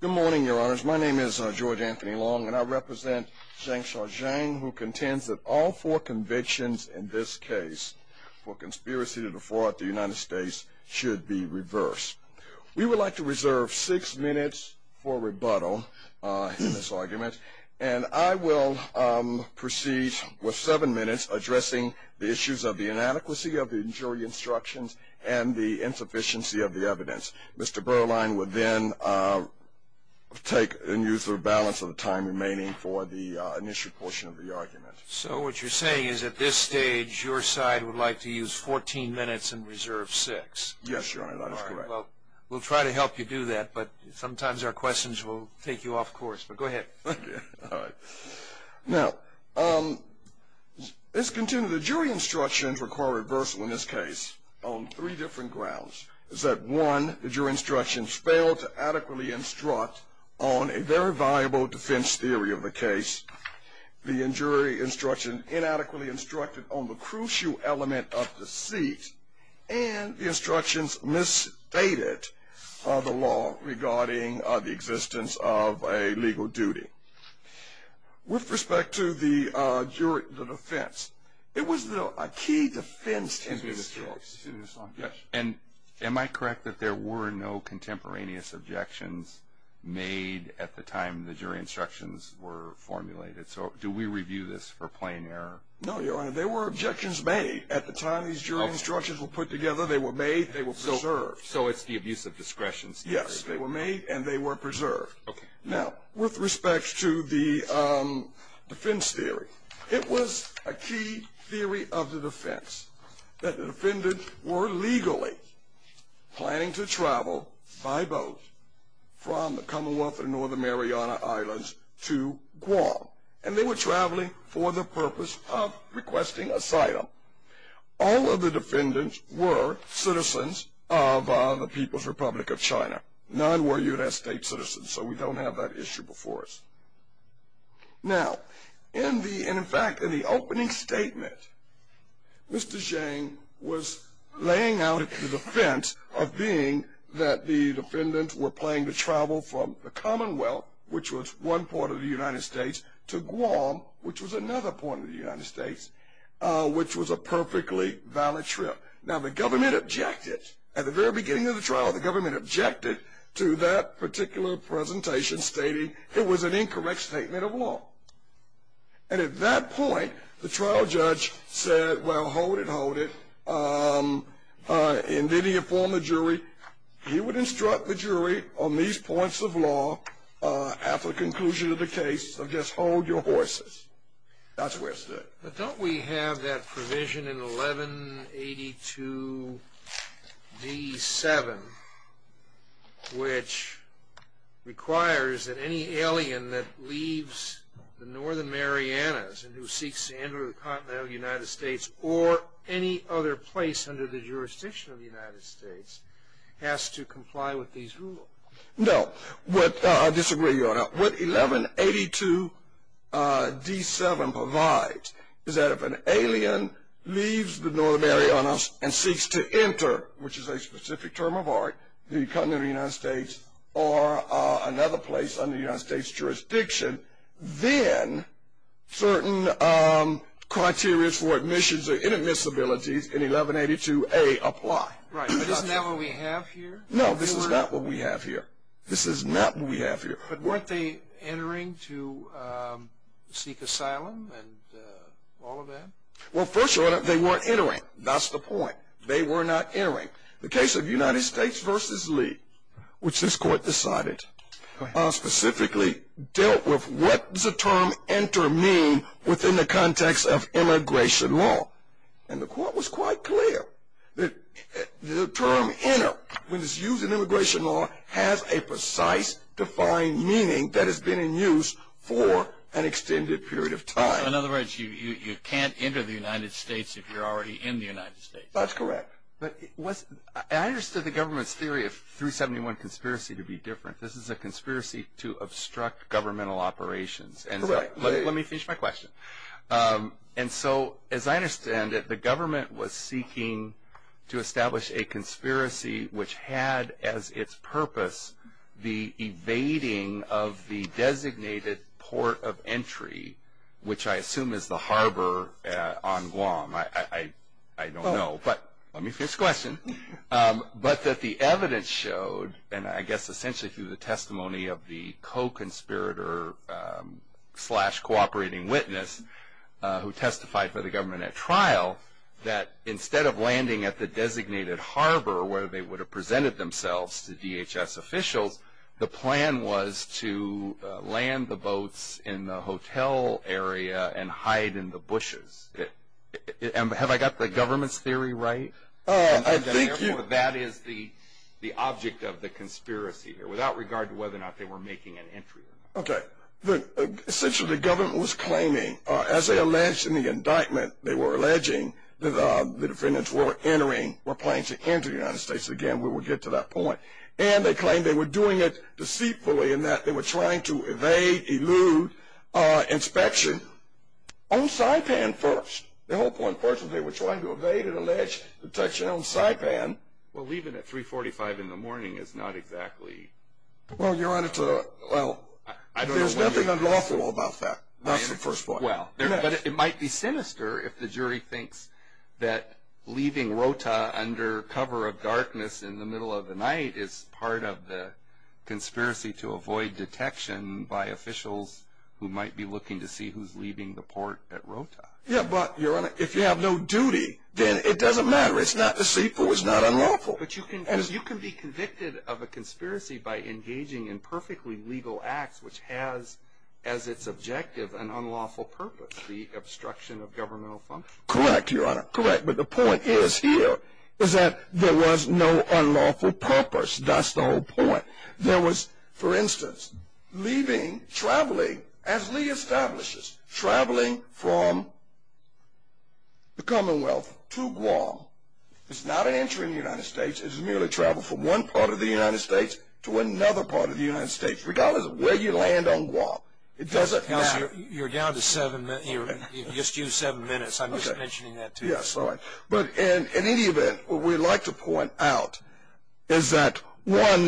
Good morning, your honors. My name is George Anthony Long, and I represent Zhang Xiaozhang, who contends that all four convictions in this case for conspiracy to defraud the United States should be reversed. We would like to reserve six minutes for rebuttal in this argument, and I will proceed with seven minutes addressing the issues of the inadequacy of the jury instructions and the insufficiency of the evidence. Mr. Berline would then take and use the balance of the time remaining for the initial portion of the argument. So what you're saying is at this stage, your side would like to use 14 minutes and reserve six. Yes, your honor, that is correct. We'll try to help you do that, but sometimes our questions will take you off course, but go ahead. Now, let's continue. The jury instructions require reversal in this case on three different grounds. One, the jury instructions failed to adequately instruct on a very viable defense theory of the case. The jury instruction inadequately instructed on the crucial element of deceit, and the instructions misstated the law regarding the existence of a legal duty. With respect to the defense, it was a key defense in this case. And am I correct that there were no contemporaneous objections made at the time the jury instructions were formulated? So do we review this for plain error? No, your honor. There were objections made at the time these jury instructions were put together. They were made. They were preserved. So it's the abuse of discretion theory. Yes, they were made, and they were preserved. Now, with respect to the defense theory, it was a key theory of the defense that the defendant were legally planning to travel by boat from the Commonwealth of Northern Mariana Islands to Guam. And they were traveling for the purpose of requesting asylum. All of the defendants were citizens of the People's Republic of China. None were U.S. state citizens, so we don't have that issue before us. Now, in fact, in the opening statement, Mr. Zhang was laying out the defense of being that the defendants were planning to travel from the Commonwealth, which was one part of the United States, to Guam, which was another part of the United States, which was a perfectly valid trip. Now, the government objected. At the very beginning of the trial, the government objected to that particular presentation stating it was an incorrect statement of law. And at that point, the trial judge said, well, hold it, hold it, and then he informed the jury. He would instruct the jury on these points of law after the conclusion of the case of just hold your horses. That's where it stood. But don't we have that provision in 1182d7, which requires that any alien that leaves the Northern Marianas and who seeks to enter the continental United States or any other place under the jurisdiction of the United States has to comply with these rules? No. I disagree, Your Honor. What 1182d7 provides is that if an alien leaves the Northern Marianas and seeks to enter, which is a specific term of art, the continental United States or another place under the United States jurisdiction, then certain criteria for admissions or inadmissibilities in 1182a apply. Right, but isn't that what we have here? No, this is not what we have here. This is not what we have here. But weren't they entering to seek asylum and all of that? Well, first of all, they weren't entering. That's the point. They were not entering. The case of United States v. Lee, which this Court decided specifically dealt with, what does the term enter mean within the context of immigration law? And the Court was quite clear that the term enter, when it's used in immigration law, has a precise defined meaning that has been in use for an extended period of time. So, in other words, you can't enter the United States if you're already in the United States. That's correct. I understood the government's theory of 371 conspiracy to be different. This is a conspiracy to obstruct governmental operations. Correct. Let me finish my question. And so, as I understand it, the government was seeking to establish a conspiracy, which had as its purpose the evading of the designated port of entry, which I assume is the harbor on Guam. I don't know. But let me finish the question. But that the evidence showed, and I guess essentially through the testimony of the co-conspirator slash cooperating witness who testified for the government at trial, that instead of landing at the designated harbor where they would have presented themselves to DHS officials, the plan was to land the boats in the hotel area and hide in the bushes. Have I got the government's theory right? I think you have. That is the object of the conspiracy here, without regard to whether or not they were making an entry. Okay. Essentially, the government was claiming, as they alleged in the indictment, they were alleging that the defendants were entering, were planning to enter the United States. Again, we will get to that point. And they claimed they were doing it deceitfully in that they were trying to evade, elude inspection on Saipan first. The whole point first was they were trying to evade and allege detection on Saipan. Well, leaving at 345 in the morning is not exactly. Well, Your Honor, well, there's nothing unlawful about that. That's the first point. Well, but it might be sinister if the jury thinks that leaving Rota under cover of darkness in the middle of the night is part of the conspiracy to avoid detection by officials who might be looking to see who's leaving the port at Rota. Yeah, but, Your Honor, if you have no duty, then it doesn't matter. It's not deceitful. It's not unlawful. But you can be convicted of a conspiracy by engaging in perfectly legal acts, which has as its objective an unlawful purpose, the obstruction of governmental function. Correct, Your Honor, correct. But the point is here is that there was no unlawful purpose. That's the whole point. There was, for instance, leaving, traveling, as Lee establishes, traveling from the Commonwealth to Guam. It's not an entry in the United States. It's merely travel from one part of the United States to another part of the United States, regardless of where you land on Guam. It doesn't matter. You're down to seven minutes. You just used seven minutes. I'm just mentioning that to you. Yes, all right. But in any event, what we'd like to point out is that, one,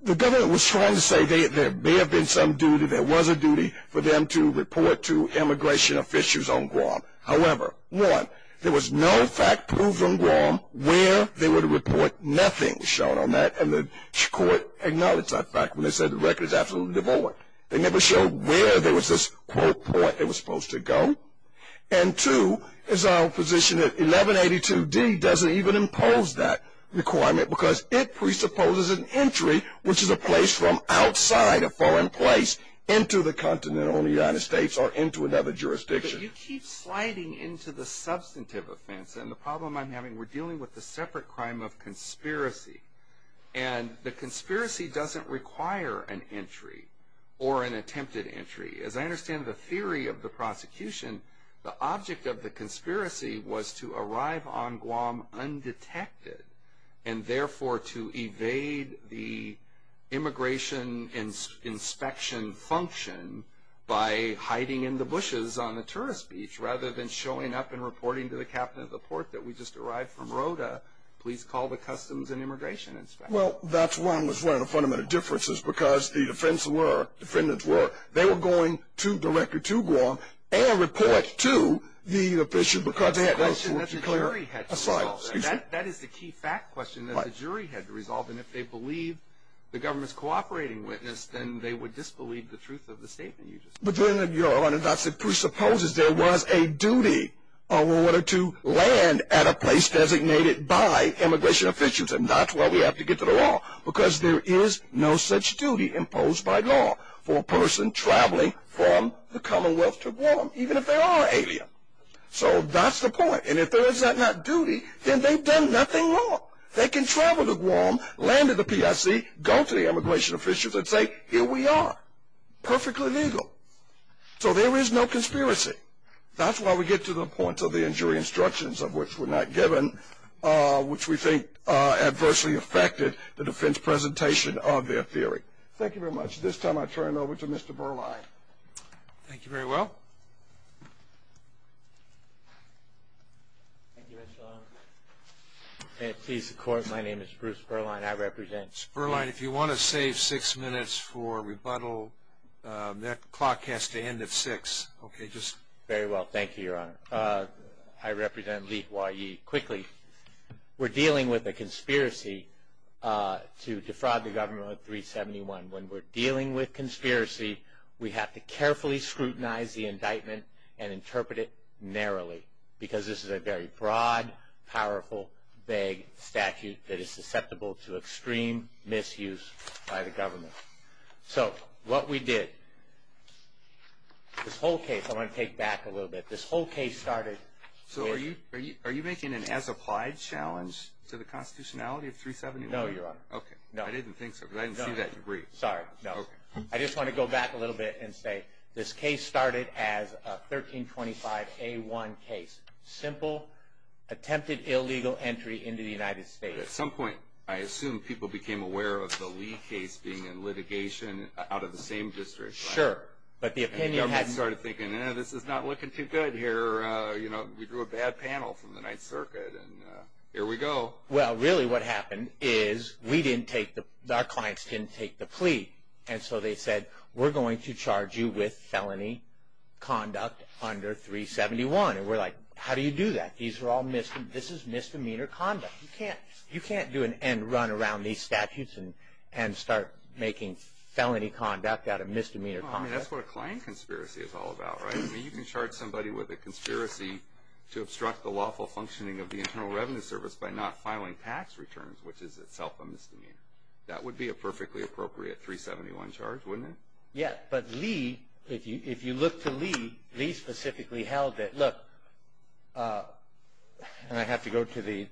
the government was trying to say there may have been some duty, there was a duty for them to report to immigration officials on Guam. However, one, there was no fact proved on Guam where they would report nothing shown on that, and the court acknowledged that fact when they said the record is absolutely devoid. They never showed where there was this quote point it was supposed to go. And, two, it's our position that 1182D doesn't even impose that requirement because it presupposes an entry, which is a place from outside a foreign place, into the continent of the United States or into another jurisdiction. But you keep sliding into the substantive offense. And the problem I'm having, we're dealing with a separate crime of conspiracy. And the conspiracy doesn't require an entry or an attempted entry. As I understand the theory of the prosecution, the object of the conspiracy was to arrive on Guam undetected and, therefore, to evade the immigration inspection function by hiding in the bushes on the tourist beach rather than showing up and reporting to the captain of the port that we just arrived from Rota, please call the customs and immigration inspector. Well, that's one of the fundamental differences because the defense were, the defendants were, they were going to direct you to Guam and report to the official because they had those That is the key fact question that the jury had to resolve. And if they believe the government's cooperating witness, then they would disbelieve the truth of the statement you just made. But then, Your Honor, that presupposes there was a duty in order to land at a place designated by immigration officials and that's why we have to get to the law because there is no such duty imposed by law for a person traveling from the Commonwealth to Guam, even if they are alien. So that's the point. And if there is that not duty, then they've done nothing wrong. They can travel to Guam, land at the PIC, go to the immigration officials and say, here we are, perfectly legal. So there is no conspiracy. That's why we get to the point of the injury instructions of which were not given, which we think adversely affected the defense presentation of their theory. Thank you very much. At this time, I turn it over to Mr. Berline. Thank you very well. Please support. My name is Bruce Berline. I represent. Mr. Berline, if you want to save six minutes for rebuttal, that clock has to end at 6. Okay, just. Very well. Thank you, Your Honor. I represent Lee Hawaii. Quickly, we're dealing with a conspiracy to defraud the government of 371. And when we're dealing with conspiracy, we have to carefully scrutinize the indictment and interpret it narrowly because this is a very broad, powerful, vague statute that is susceptible to extreme misuse by the government. So what we did, this whole case, I want to take back a little bit. This whole case started. So are you making an as-applied challenge to the constitutionality of 371? No, Your Honor. Okay. I didn't think so because I didn't see that degree. Sorry, no. I just want to go back a little bit and say this case started as a 1325A1 case, simple attempted illegal entry into the United States. At some point, I assume people became aware of the Lee case being in litigation out of the same district, right? Sure. And the government started thinking, this is not looking too good here. We drew a bad panel from the Ninth Circuit, and here we go. Well, really what happened is we didn't take the – our clients didn't take the plea. And so they said, we're going to charge you with felony conduct under 371. And we're like, how do you do that? This is misdemeanor conduct. You can't do it and run around these statutes and start making felony conduct out of misdemeanor conduct. That's what a client conspiracy is all about, right? You can charge somebody with a conspiracy to obstruct the lawful functioning of the Internal Revenue Service by not filing tax returns, which is itself a misdemeanor. That would be a perfectly appropriate 371 charge, wouldn't it? Yeah, but Lee, if you look to Lee, Lee specifically held it. Look, and I have to go to the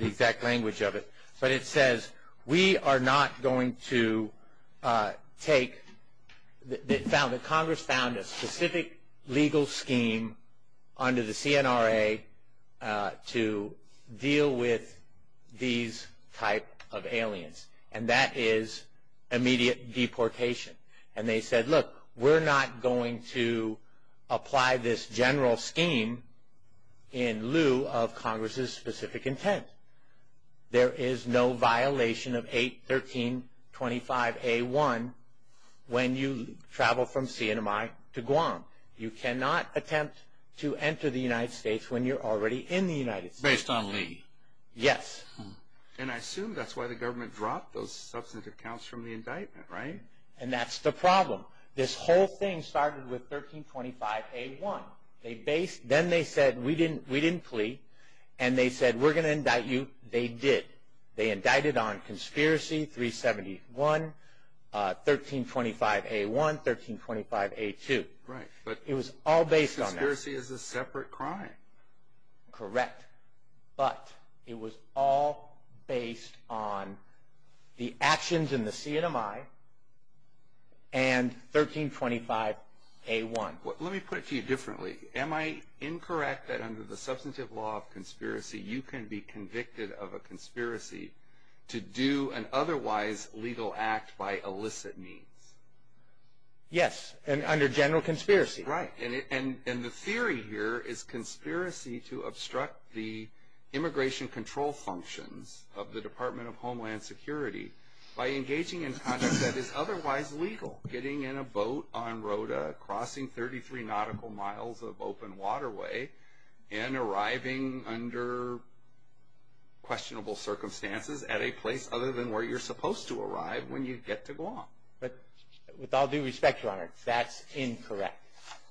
exact language of it, but it says we are not going to take – Congress found a specific legal scheme under the CNRA to deal with these type of aliens, and that is immediate deportation. And they said, look, we're not going to apply this general scheme in lieu of Congress's specific intent. There is no violation of 81325A1 when you travel from CNMI to Guam. You cannot attempt to enter the United States when you're already in the United States. Based on Lee? Yes. And I assume that's why the government dropped those substantive counts from the indictment, right? And that's the problem. This whole thing started with 1325A1. Then they said we didn't plea, and they said we're going to indict you. They did. They indicted on conspiracy, 371, 1325A1, 1325A2. Right, but conspiracy is a separate crime. Correct. But it was all based on the actions in the CNMI and 1325A1. Let me put it to you differently. Am I incorrect that under the substantive law of conspiracy, you can be convicted of a conspiracy to do an otherwise legal act by illicit means? Yes, under general conspiracy. Right. And the theory here is conspiracy to obstruct the immigration control functions of the Department of Homeland Security by engaging in conduct that is otherwise legal, getting in a boat on Rota, crossing 33 nautical miles of open waterway, and arriving under questionable circumstances at a place other than where you're supposed to arrive when you get to Guam. But with all due respect, Your Honor, that's incorrect.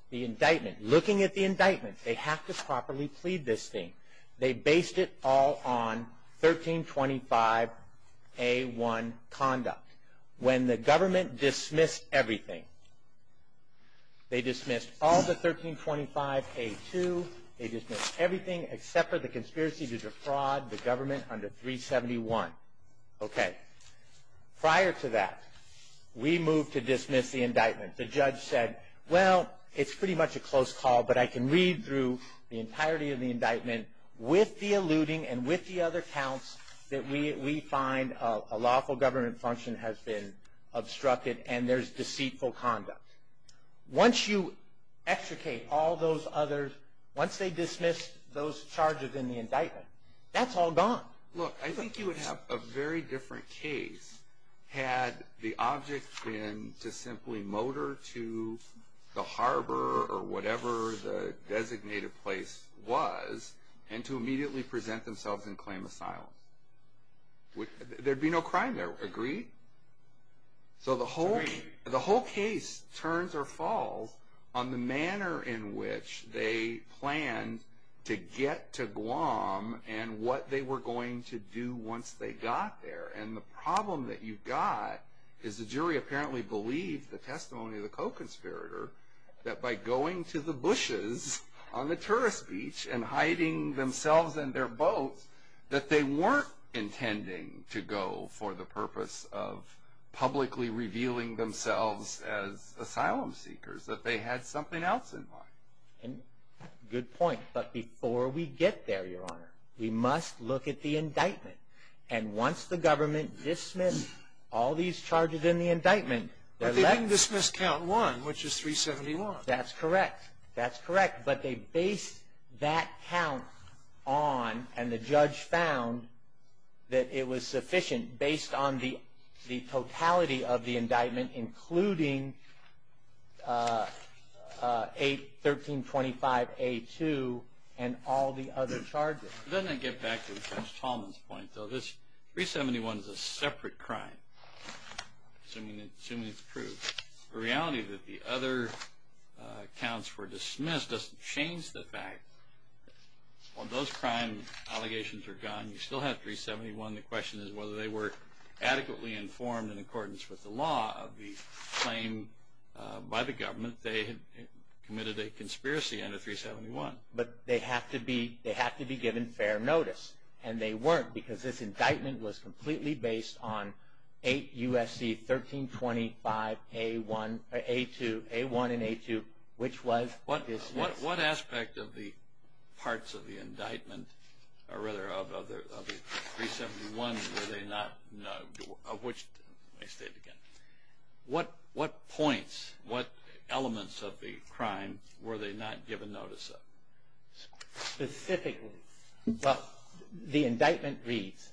The indictment, looking at the indictment, they have to properly plead this thing. They based it all on 1325A1 conduct. When the government dismissed everything, they dismissed all the 1325A2, they dismissed everything except for the conspiracy to defraud the government under 371. Okay. Prior to that, we moved to dismiss the indictment. The judge said, well, it's pretty much a close call, but I can read through the entirety of the indictment with the alluding and with the other counts that we find a lawful government function has been obstructed and there's deceitful conduct. Once you extricate all those others, once they dismiss those charges in the indictment, that's all gone. Look, I think you would have a very different case had the object been to simply motor to the harbor or whatever the designated place was and to immediately present themselves and claim asylum. There'd be no crime there. Agree? So the whole case turns or falls on the manner in which they planned to get to Guam and what they were going to do once they got there. And the problem that you've got is the jury apparently believed the testimony of the co-conspirator that by going to the bushes on the tourist beach and hiding themselves and their boats, that they weren't intending to go for the purpose of publicly revealing themselves as asylum seekers, that they had something else in mind. Good point. But before we get there, Your Honor, we must look at the indictment. And once the government dismissed all these charges in the indictment, But they didn't dismiss count one, which is 371. That's correct. That's correct. But they based that count on, and the judge found that it was sufficient, based on the totality of the indictment, including 1325A2 and all the other charges. Doesn't that get back to Judge Tallman's point, though? This 371 is a separate crime, assuming it's proved. The reality that the other counts were dismissed doesn't change the fact that while those crime allegations are gone, you still have 371. And the question is whether they were adequately informed in accordance with the law of the claim by the government they had committed a conspiracy under 371. But they have to be given fair notice, and they weren't, because this indictment was completely based on 8 U.S.C. 1325A1 and A2, which was dismissed. What aspect of the parts of the indictment, or rather of the 371, were they not, of which, let me state it again, what points, what elements of the crime were they not given notice of? Specifically, well, the indictment reads,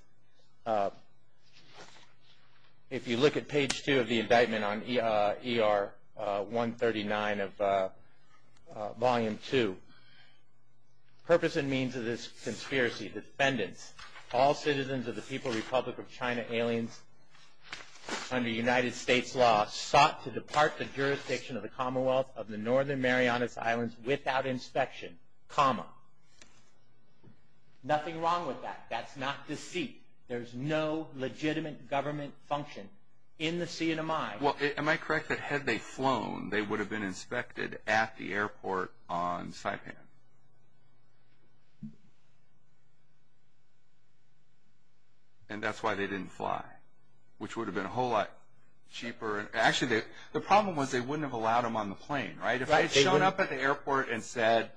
if you look at page two of the indictment on ER 139 of volume two, purpose and means of this conspiracy, defendants, all citizens of the People Republic of China, aliens under United States law, sought to depart the jurisdiction of the Commonwealth of the Northern Marianas Islands without inspection, comma. Nothing wrong with that. That's not deceit. There's no legitimate government function in the CNMI. Well, am I correct that had they flown, they would have been inspected at the airport on Saipan? And that's why they didn't fly, which would have been a whole lot cheaper. Actually, the problem was they wouldn't have allowed them on the plane, right? If I had shown up at the airport and said,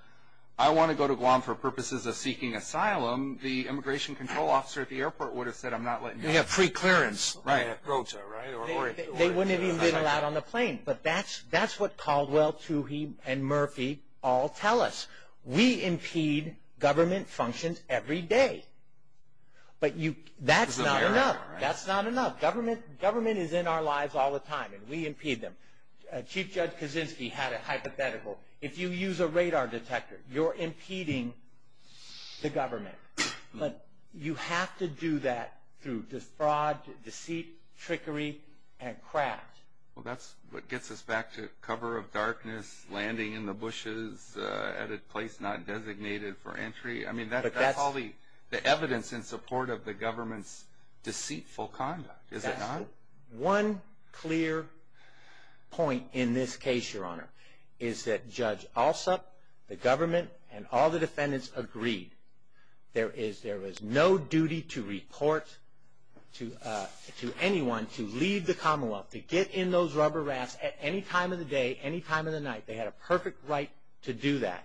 I want to go to Guam for purposes of seeking asylum, the immigration control officer at the airport would have said, I'm not letting you in. They have free clearance. Right. They wouldn't have even been allowed on the plane. But that's what Caldwell, Tuohy, and Murphy all tell us. We impede government functions every day. But that's not enough. That's not enough. Government is in our lives all the time, and we impede them. Chief Judge Kaczynski had a hypothetical. If you use a radar detector, you're impeding the government. But you have to do that through fraud, deceit, trickery, and craft. Well, that's what gets us back to cover of darkness, landing in the bushes at a place not designated for entry. I mean, that's all the evidence in support of the government's deceitful conduct, is it not? One clear point in this case, Your Honor, is that Judge Alsup, the government, and all the defendants agreed. There is no duty to report to anyone to leave the Commonwealth, to get in those rubber rafts at any time of the day, any time of the night. They had a perfect right to do that.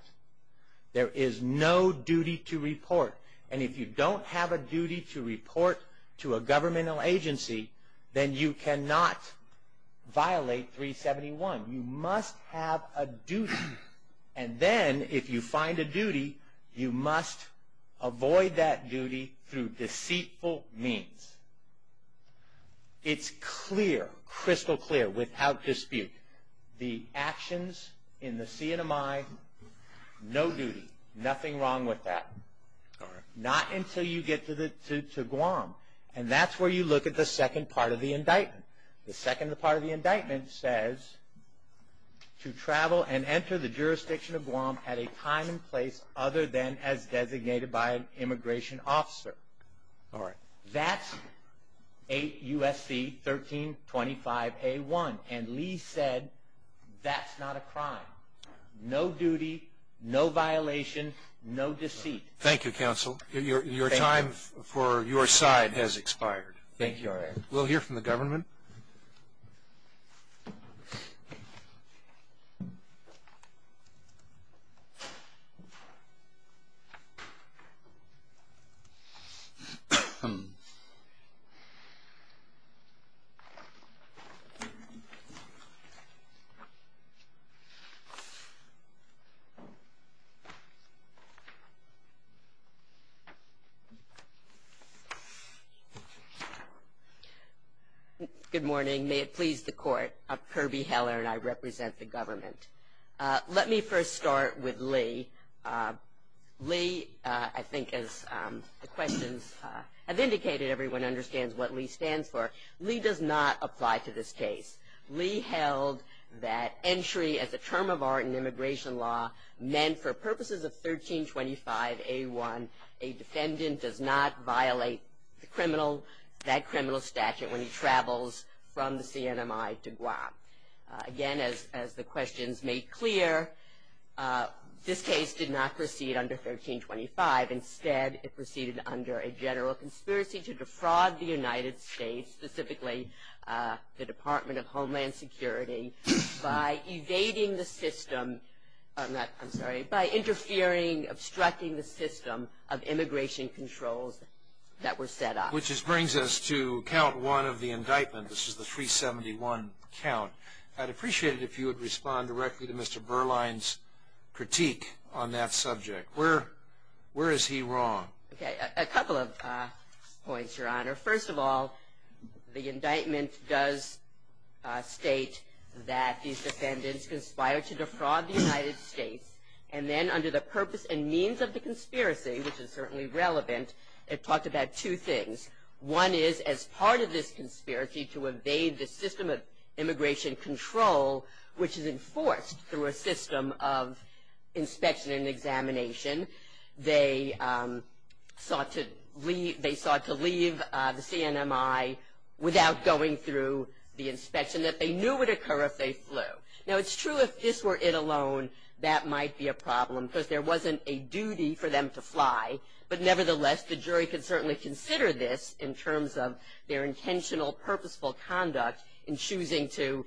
There is no duty to report. And if you don't have a duty to report to a governmental agency, then you cannot violate 371. You must have a duty. And then, if you find a duty, you must avoid that duty through deceitful means. It's clear, crystal clear, without dispute. The actions in the CNMI, no duty, nothing wrong with that. Not until you get to Guam. And that's where you look at the second part of the indictment. The second part of the indictment says, to travel and enter the jurisdiction of Guam at a time and place other than as designated by an immigration officer. All right. That's 8 U.S.C. 1325A1. And Lee said, that's not a crime. No duty, no violation, no deceit. Thank you, Counsel. Your time for your side has expired. Thank you, Your Honor. We'll hear from the government. Good morning. May it please the Court, Kirby Heller and I represent the government. Let me first start with Lee. Lee, I think as the questions have indicated, everyone understands what Lee stands for. Lee does not apply to this case. Lee held that entry as a term of art in immigration law meant for purposes of 1325A1, a defendant does not violate that criminal statute when he travels from the CNMI to Guam. Again, as the questions made clear, this case did not proceed under 1325. Instead, it proceeded under a general conspiracy to defraud the United States, specifically the Department of Homeland Security, by evading the system, I'm sorry, by interfering, obstructing the system of immigration controls that were set up. Which brings us to Count 1 of the indictment. This is the 371 count. I'd appreciate it if you would respond directly to Mr. Berline's critique on that subject. Where is he wrong? Okay. A couple of points, Your Honor. First of all, the indictment does state that these defendants conspired to defraud the United States, and then under the purpose and means of the conspiracy, which is certainly relevant, it talked about two things. One is as part of this conspiracy to evade the system of immigration control, which is enforced through a system of inspection and examination. They sought to leave the CNMI without going through the inspection that they knew would occur if they flew. Now, it's true if this were it alone, that might be a problem, because there wasn't a duty for them to fly. But nevertheless, the jury could certainly consider this in terms of their intentional, purposeful conduct in choosing to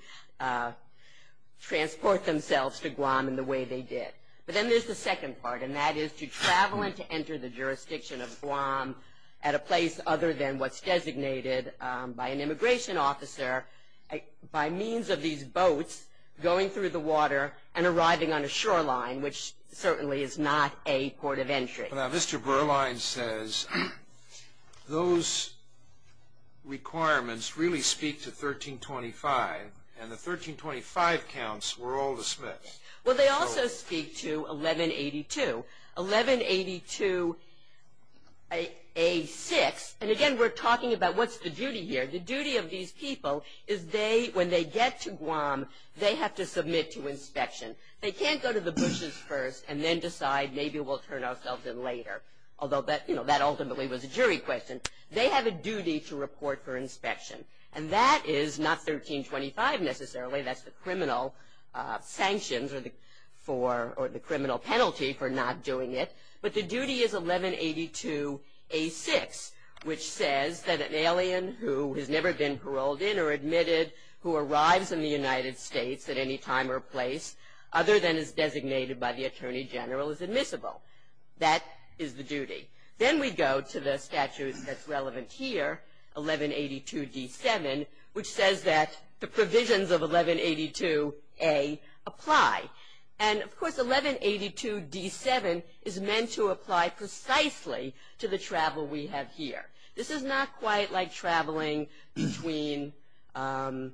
transport themselves to Guam in the way they did. But then there's the second part, and that is to travel and to enter the jurisdiction of Guam at a place other than what's designated by an immigration officer by means of these boats going through the water and arriving on a shoreline, which certainly is not a port of entry. Now, Mr. Berline says those requirements really speak to 1325, and the 1325 counts were all dismissed. Well, they also speak to 1182. 1182A6, and again, we're talking about what's the duty here. The duty of these people is when they get to Guam, they have to submit to inspection. They can't go to the bushes first and then decide maybe we'll turn ourselves in later, although that ultimately was a jury question. They have a duty to report for inspection. And that is not 1325 necessarily. That's the criminal sanctions or the criminal penalty for not doing it. But the duty is 1182A6, which says that an alien who has never been paroled in or admitted who arrives in the United States at any time or place other than is designated by the Attorney General is admissible. That is the duty. Then we go to the statute that's relevant here, 1182D7, which says that the provisions of 1182A apply. And, of course, 1182D7 is meant to apply precisely to the travel we have here. This is not quite like traveling between the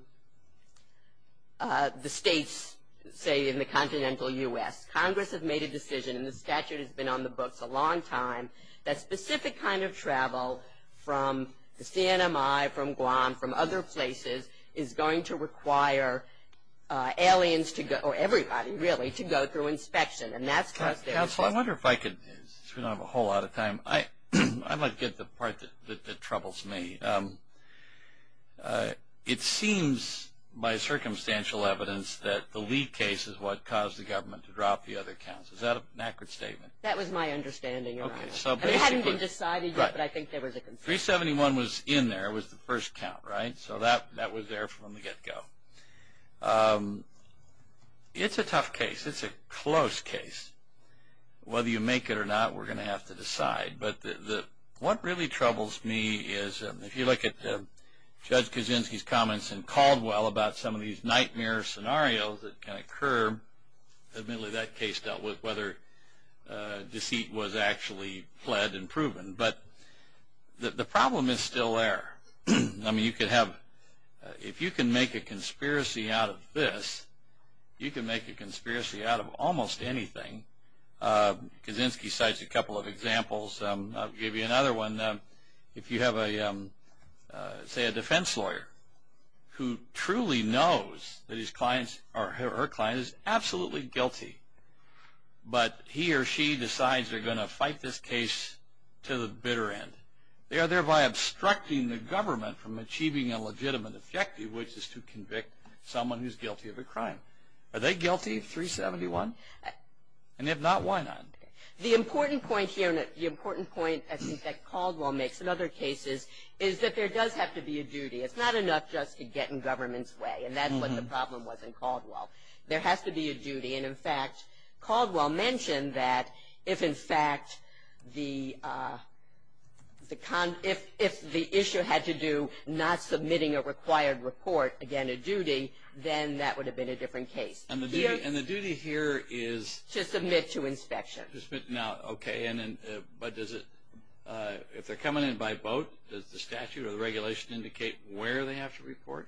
states, say, in the continental U.S. Congress has made a decision, and the statute has been on the books a long time, that specific kind of travel from the CNMI, from Guam, from other places, is going to require aliens to go, or everybody, really, to go through inspection. And that's because there is. Council, I wonder if I could, since we don't have a whole lot of time, I might get the part that troubles me. It seems, by circumstantial evidence, that the Lee case is what caused the government to drop the other counts. Is that an accurate statement? That was my understanding, Your Honor. Okay, so basically. It hadn't been decided yet, but I think there was a concern. 371 was in there. It was the first count, right? So that was there from the get-go. It's a tough case. It's a close case. Whether you make it or not, we're going to have to decide. But what really troubles me is, if you look at Judge Kaczynski's comments in Caldwell about some of these nightmare scenarios that can occur. Admittedly, that case dealt with whether deceit was actually pled and proven. But the problem is still there. I mean, if you can make a conspiracy out of this, you can make a conspiracy out of almost anything. Kaczynski cites a couple of examples. I'll give you another one. If you have, say, a defense lawyer who truly knows that his client or her client is absolutely guilty, but he or she decides they're going to fight this case to the bitter end, they are thereby obstructing the government from achieving a legitimate objective, which is to convict someone who's guilty of a crime. Are they guilty? 371? And if not, why not? The important point here, and the important point I think that Caldwell makes in other cases, is that there does have to be a duty. It's not enough just to get in government's way. And that's what the problem was in Caldwell. There has to be a duty. And, in fact, Caldwell mentioned that if, in fact, if the issue had to do not submitting a required report, again, a duty, then that would have been a different case. And the duty here is? To submit to inspection. Now, okay, but does it, if they're coming in by boat, does the statute or the regulation indicate where they have to report?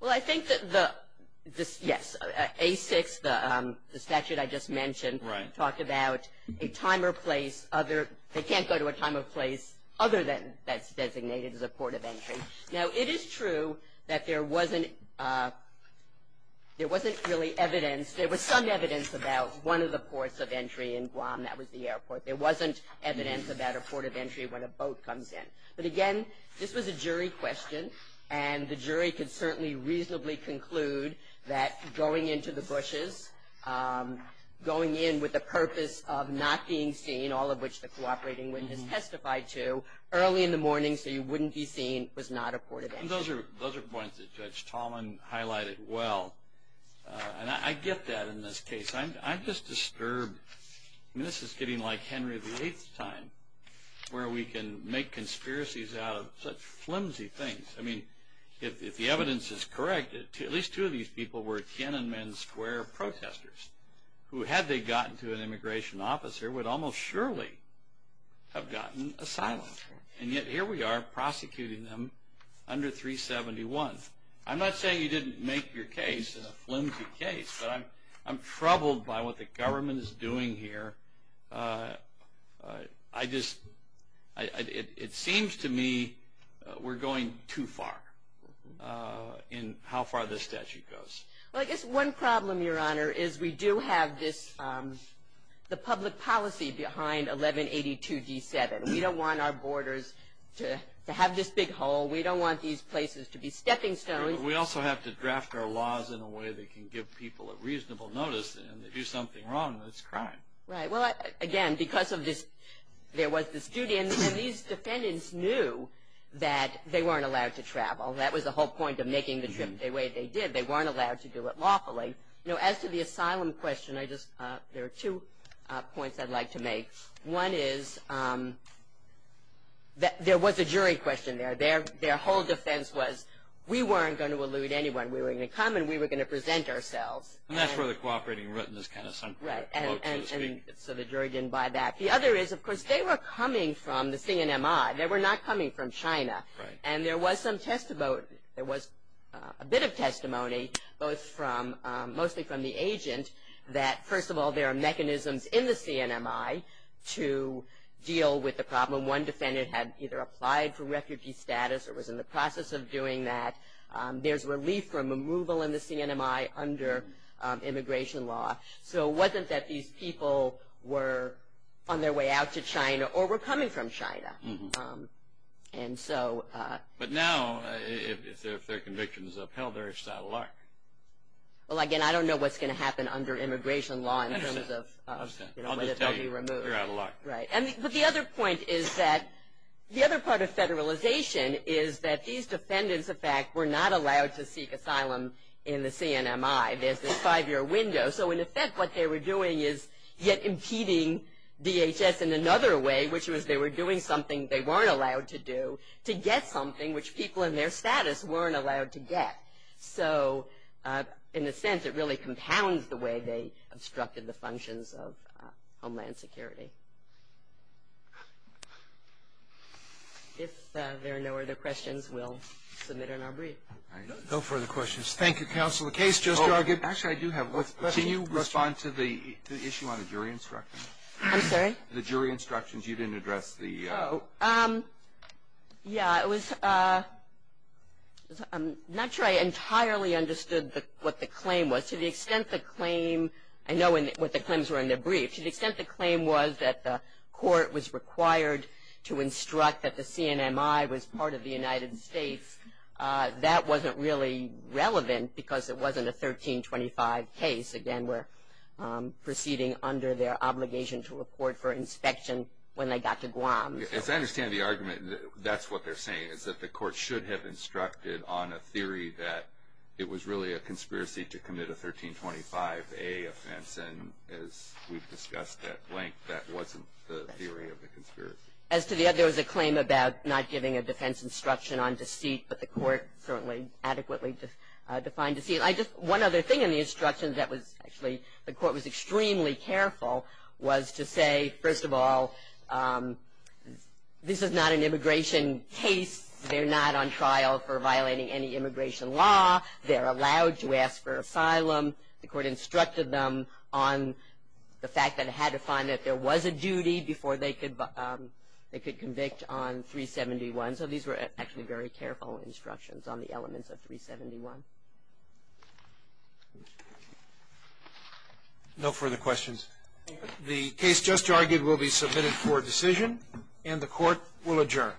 Well, I think that the, yes, A6, the statute I just mentioned, talked about a time or place, they can't go to a time or place other than that's designated as a port of entry. Now, it is true that there wasn't really evidence, there was some evidence about one of the ports of entry in Guam, that was the airport. There wasn't evidence about a port of entry when a boat comes in. But, again, this was a jury question, and the jury could certainly reasonably conclude that going into the bushes, going in with the purpose of not being seen, all of which the cooperating witness testified to, early in the morning so you wouldn't be seen, was not a port of entry. And those are points that Judge Tallman highlighted well. And I get that in this case. I'm just disturbed. I mean, this is getting like Henry VIII's time, where we can make conspiracies out of such flimsy things. I mean, if the evidence is correct, at least two of these people were Tiananmen Square protesters, who, had they gotten to an immigration officer, would almost surely have gotten asylum. And yet, here we are prosecuting them under 371. I'm not saying you didn't make your case a flimsy case, but I'm troubled by what the government is doing here. It seems to me we're going too far in how far this statute goes. Well, I guess one problem, Your Honor, is we do have this, the public policy behind 1182D7. We don't want our borders to have this big hole. We don't want these places to be stepping stones. We also have to draft our laws in a way that can give people a reasonable notice and if they do something wrong, it's crime. Right. Well, again, because of this, there was this duty. And these defendants knew that they weren't allowed to travel. That was the whole point of making the trip the way they did. They weren't allowed to do it lawfully. As to the asylum question, there are two points I'd like to make. One is there was a jury question there. Their whole defense was we weren't going to elude anyone. We were going to come and we were going to present ourselves. And that's where the cooperating written is kind of central. Right. So the jury didn't buy that. The other is, of course, they were coming from the CNMI. They were not coming from China. Right. And there was a bit of testimony, mostly from the agent, that, first of all, there are mechanisms in the CNMI to deal with the problem. One defendant had either applied for refugee status or was in the process of doing that. There's relief from removal in the CNMI under immigration law. So it wasn't that these people were on their way out to China or were coming from China. But now, if their conviction is upheld, they're just out of luck. Well, again, I don't know what's going to happen under immigration law in terms of whether they'll be removed. You're out of luck. Right. But the other point is that the other part of federalization is that these defendants, in fact, were not allowed to seek asylum in the CNMI. There's this five-year window. So, in effect, what they were doing is yet impeding DHS in another way, which was they were doing something they weren't allowed to do to get something, which people in their status weren't allowed to get. So, in a sense, it really compounds the way they obstructed the functions of Homeland Security. If there are no other questions, we'll submit another brief. No further questions. Thank you, Counsel. The case just started. Actually, I do have one question. Can you respond to the issue on the jury instructions? I'm sorry? The jury instructions. You didn't address the? Yeah. I'm not sure I entirely understood what the claim was. To the extent the claim, I know what the claims were in the brief. To the extent the claim was that the court was required to instruct that the CNMI was part of the United States, that wasn't really relevant because it wasn't a 1325 case. Again, we're proceeding under their obligation to report for inspection when they got to Guam. As I understand the argument, that's what they're saying, is that the court should have instructed on a theory that it was really a conspiracy to commit a 1325A offense, and as we've discussed at length, that wasn't the theory of the conspiracy. As to the other, there was a claim about not giving a defense instruction on deceit, but the court certainly adequately defined deceit. One other thing in the instructions that the court was extremely careful was to say, first of all, this is not an immigration case. They're not on trial for violating any immigration law. They're allowed to ask for asylum. The court instructed them on the fact that it had to find that there was a duty before they could convict on 371. So these were actually very careful instructions on the elements of 371. No further questions. The case just argued will be submitted for decision, and the court will adjourn. Thank you.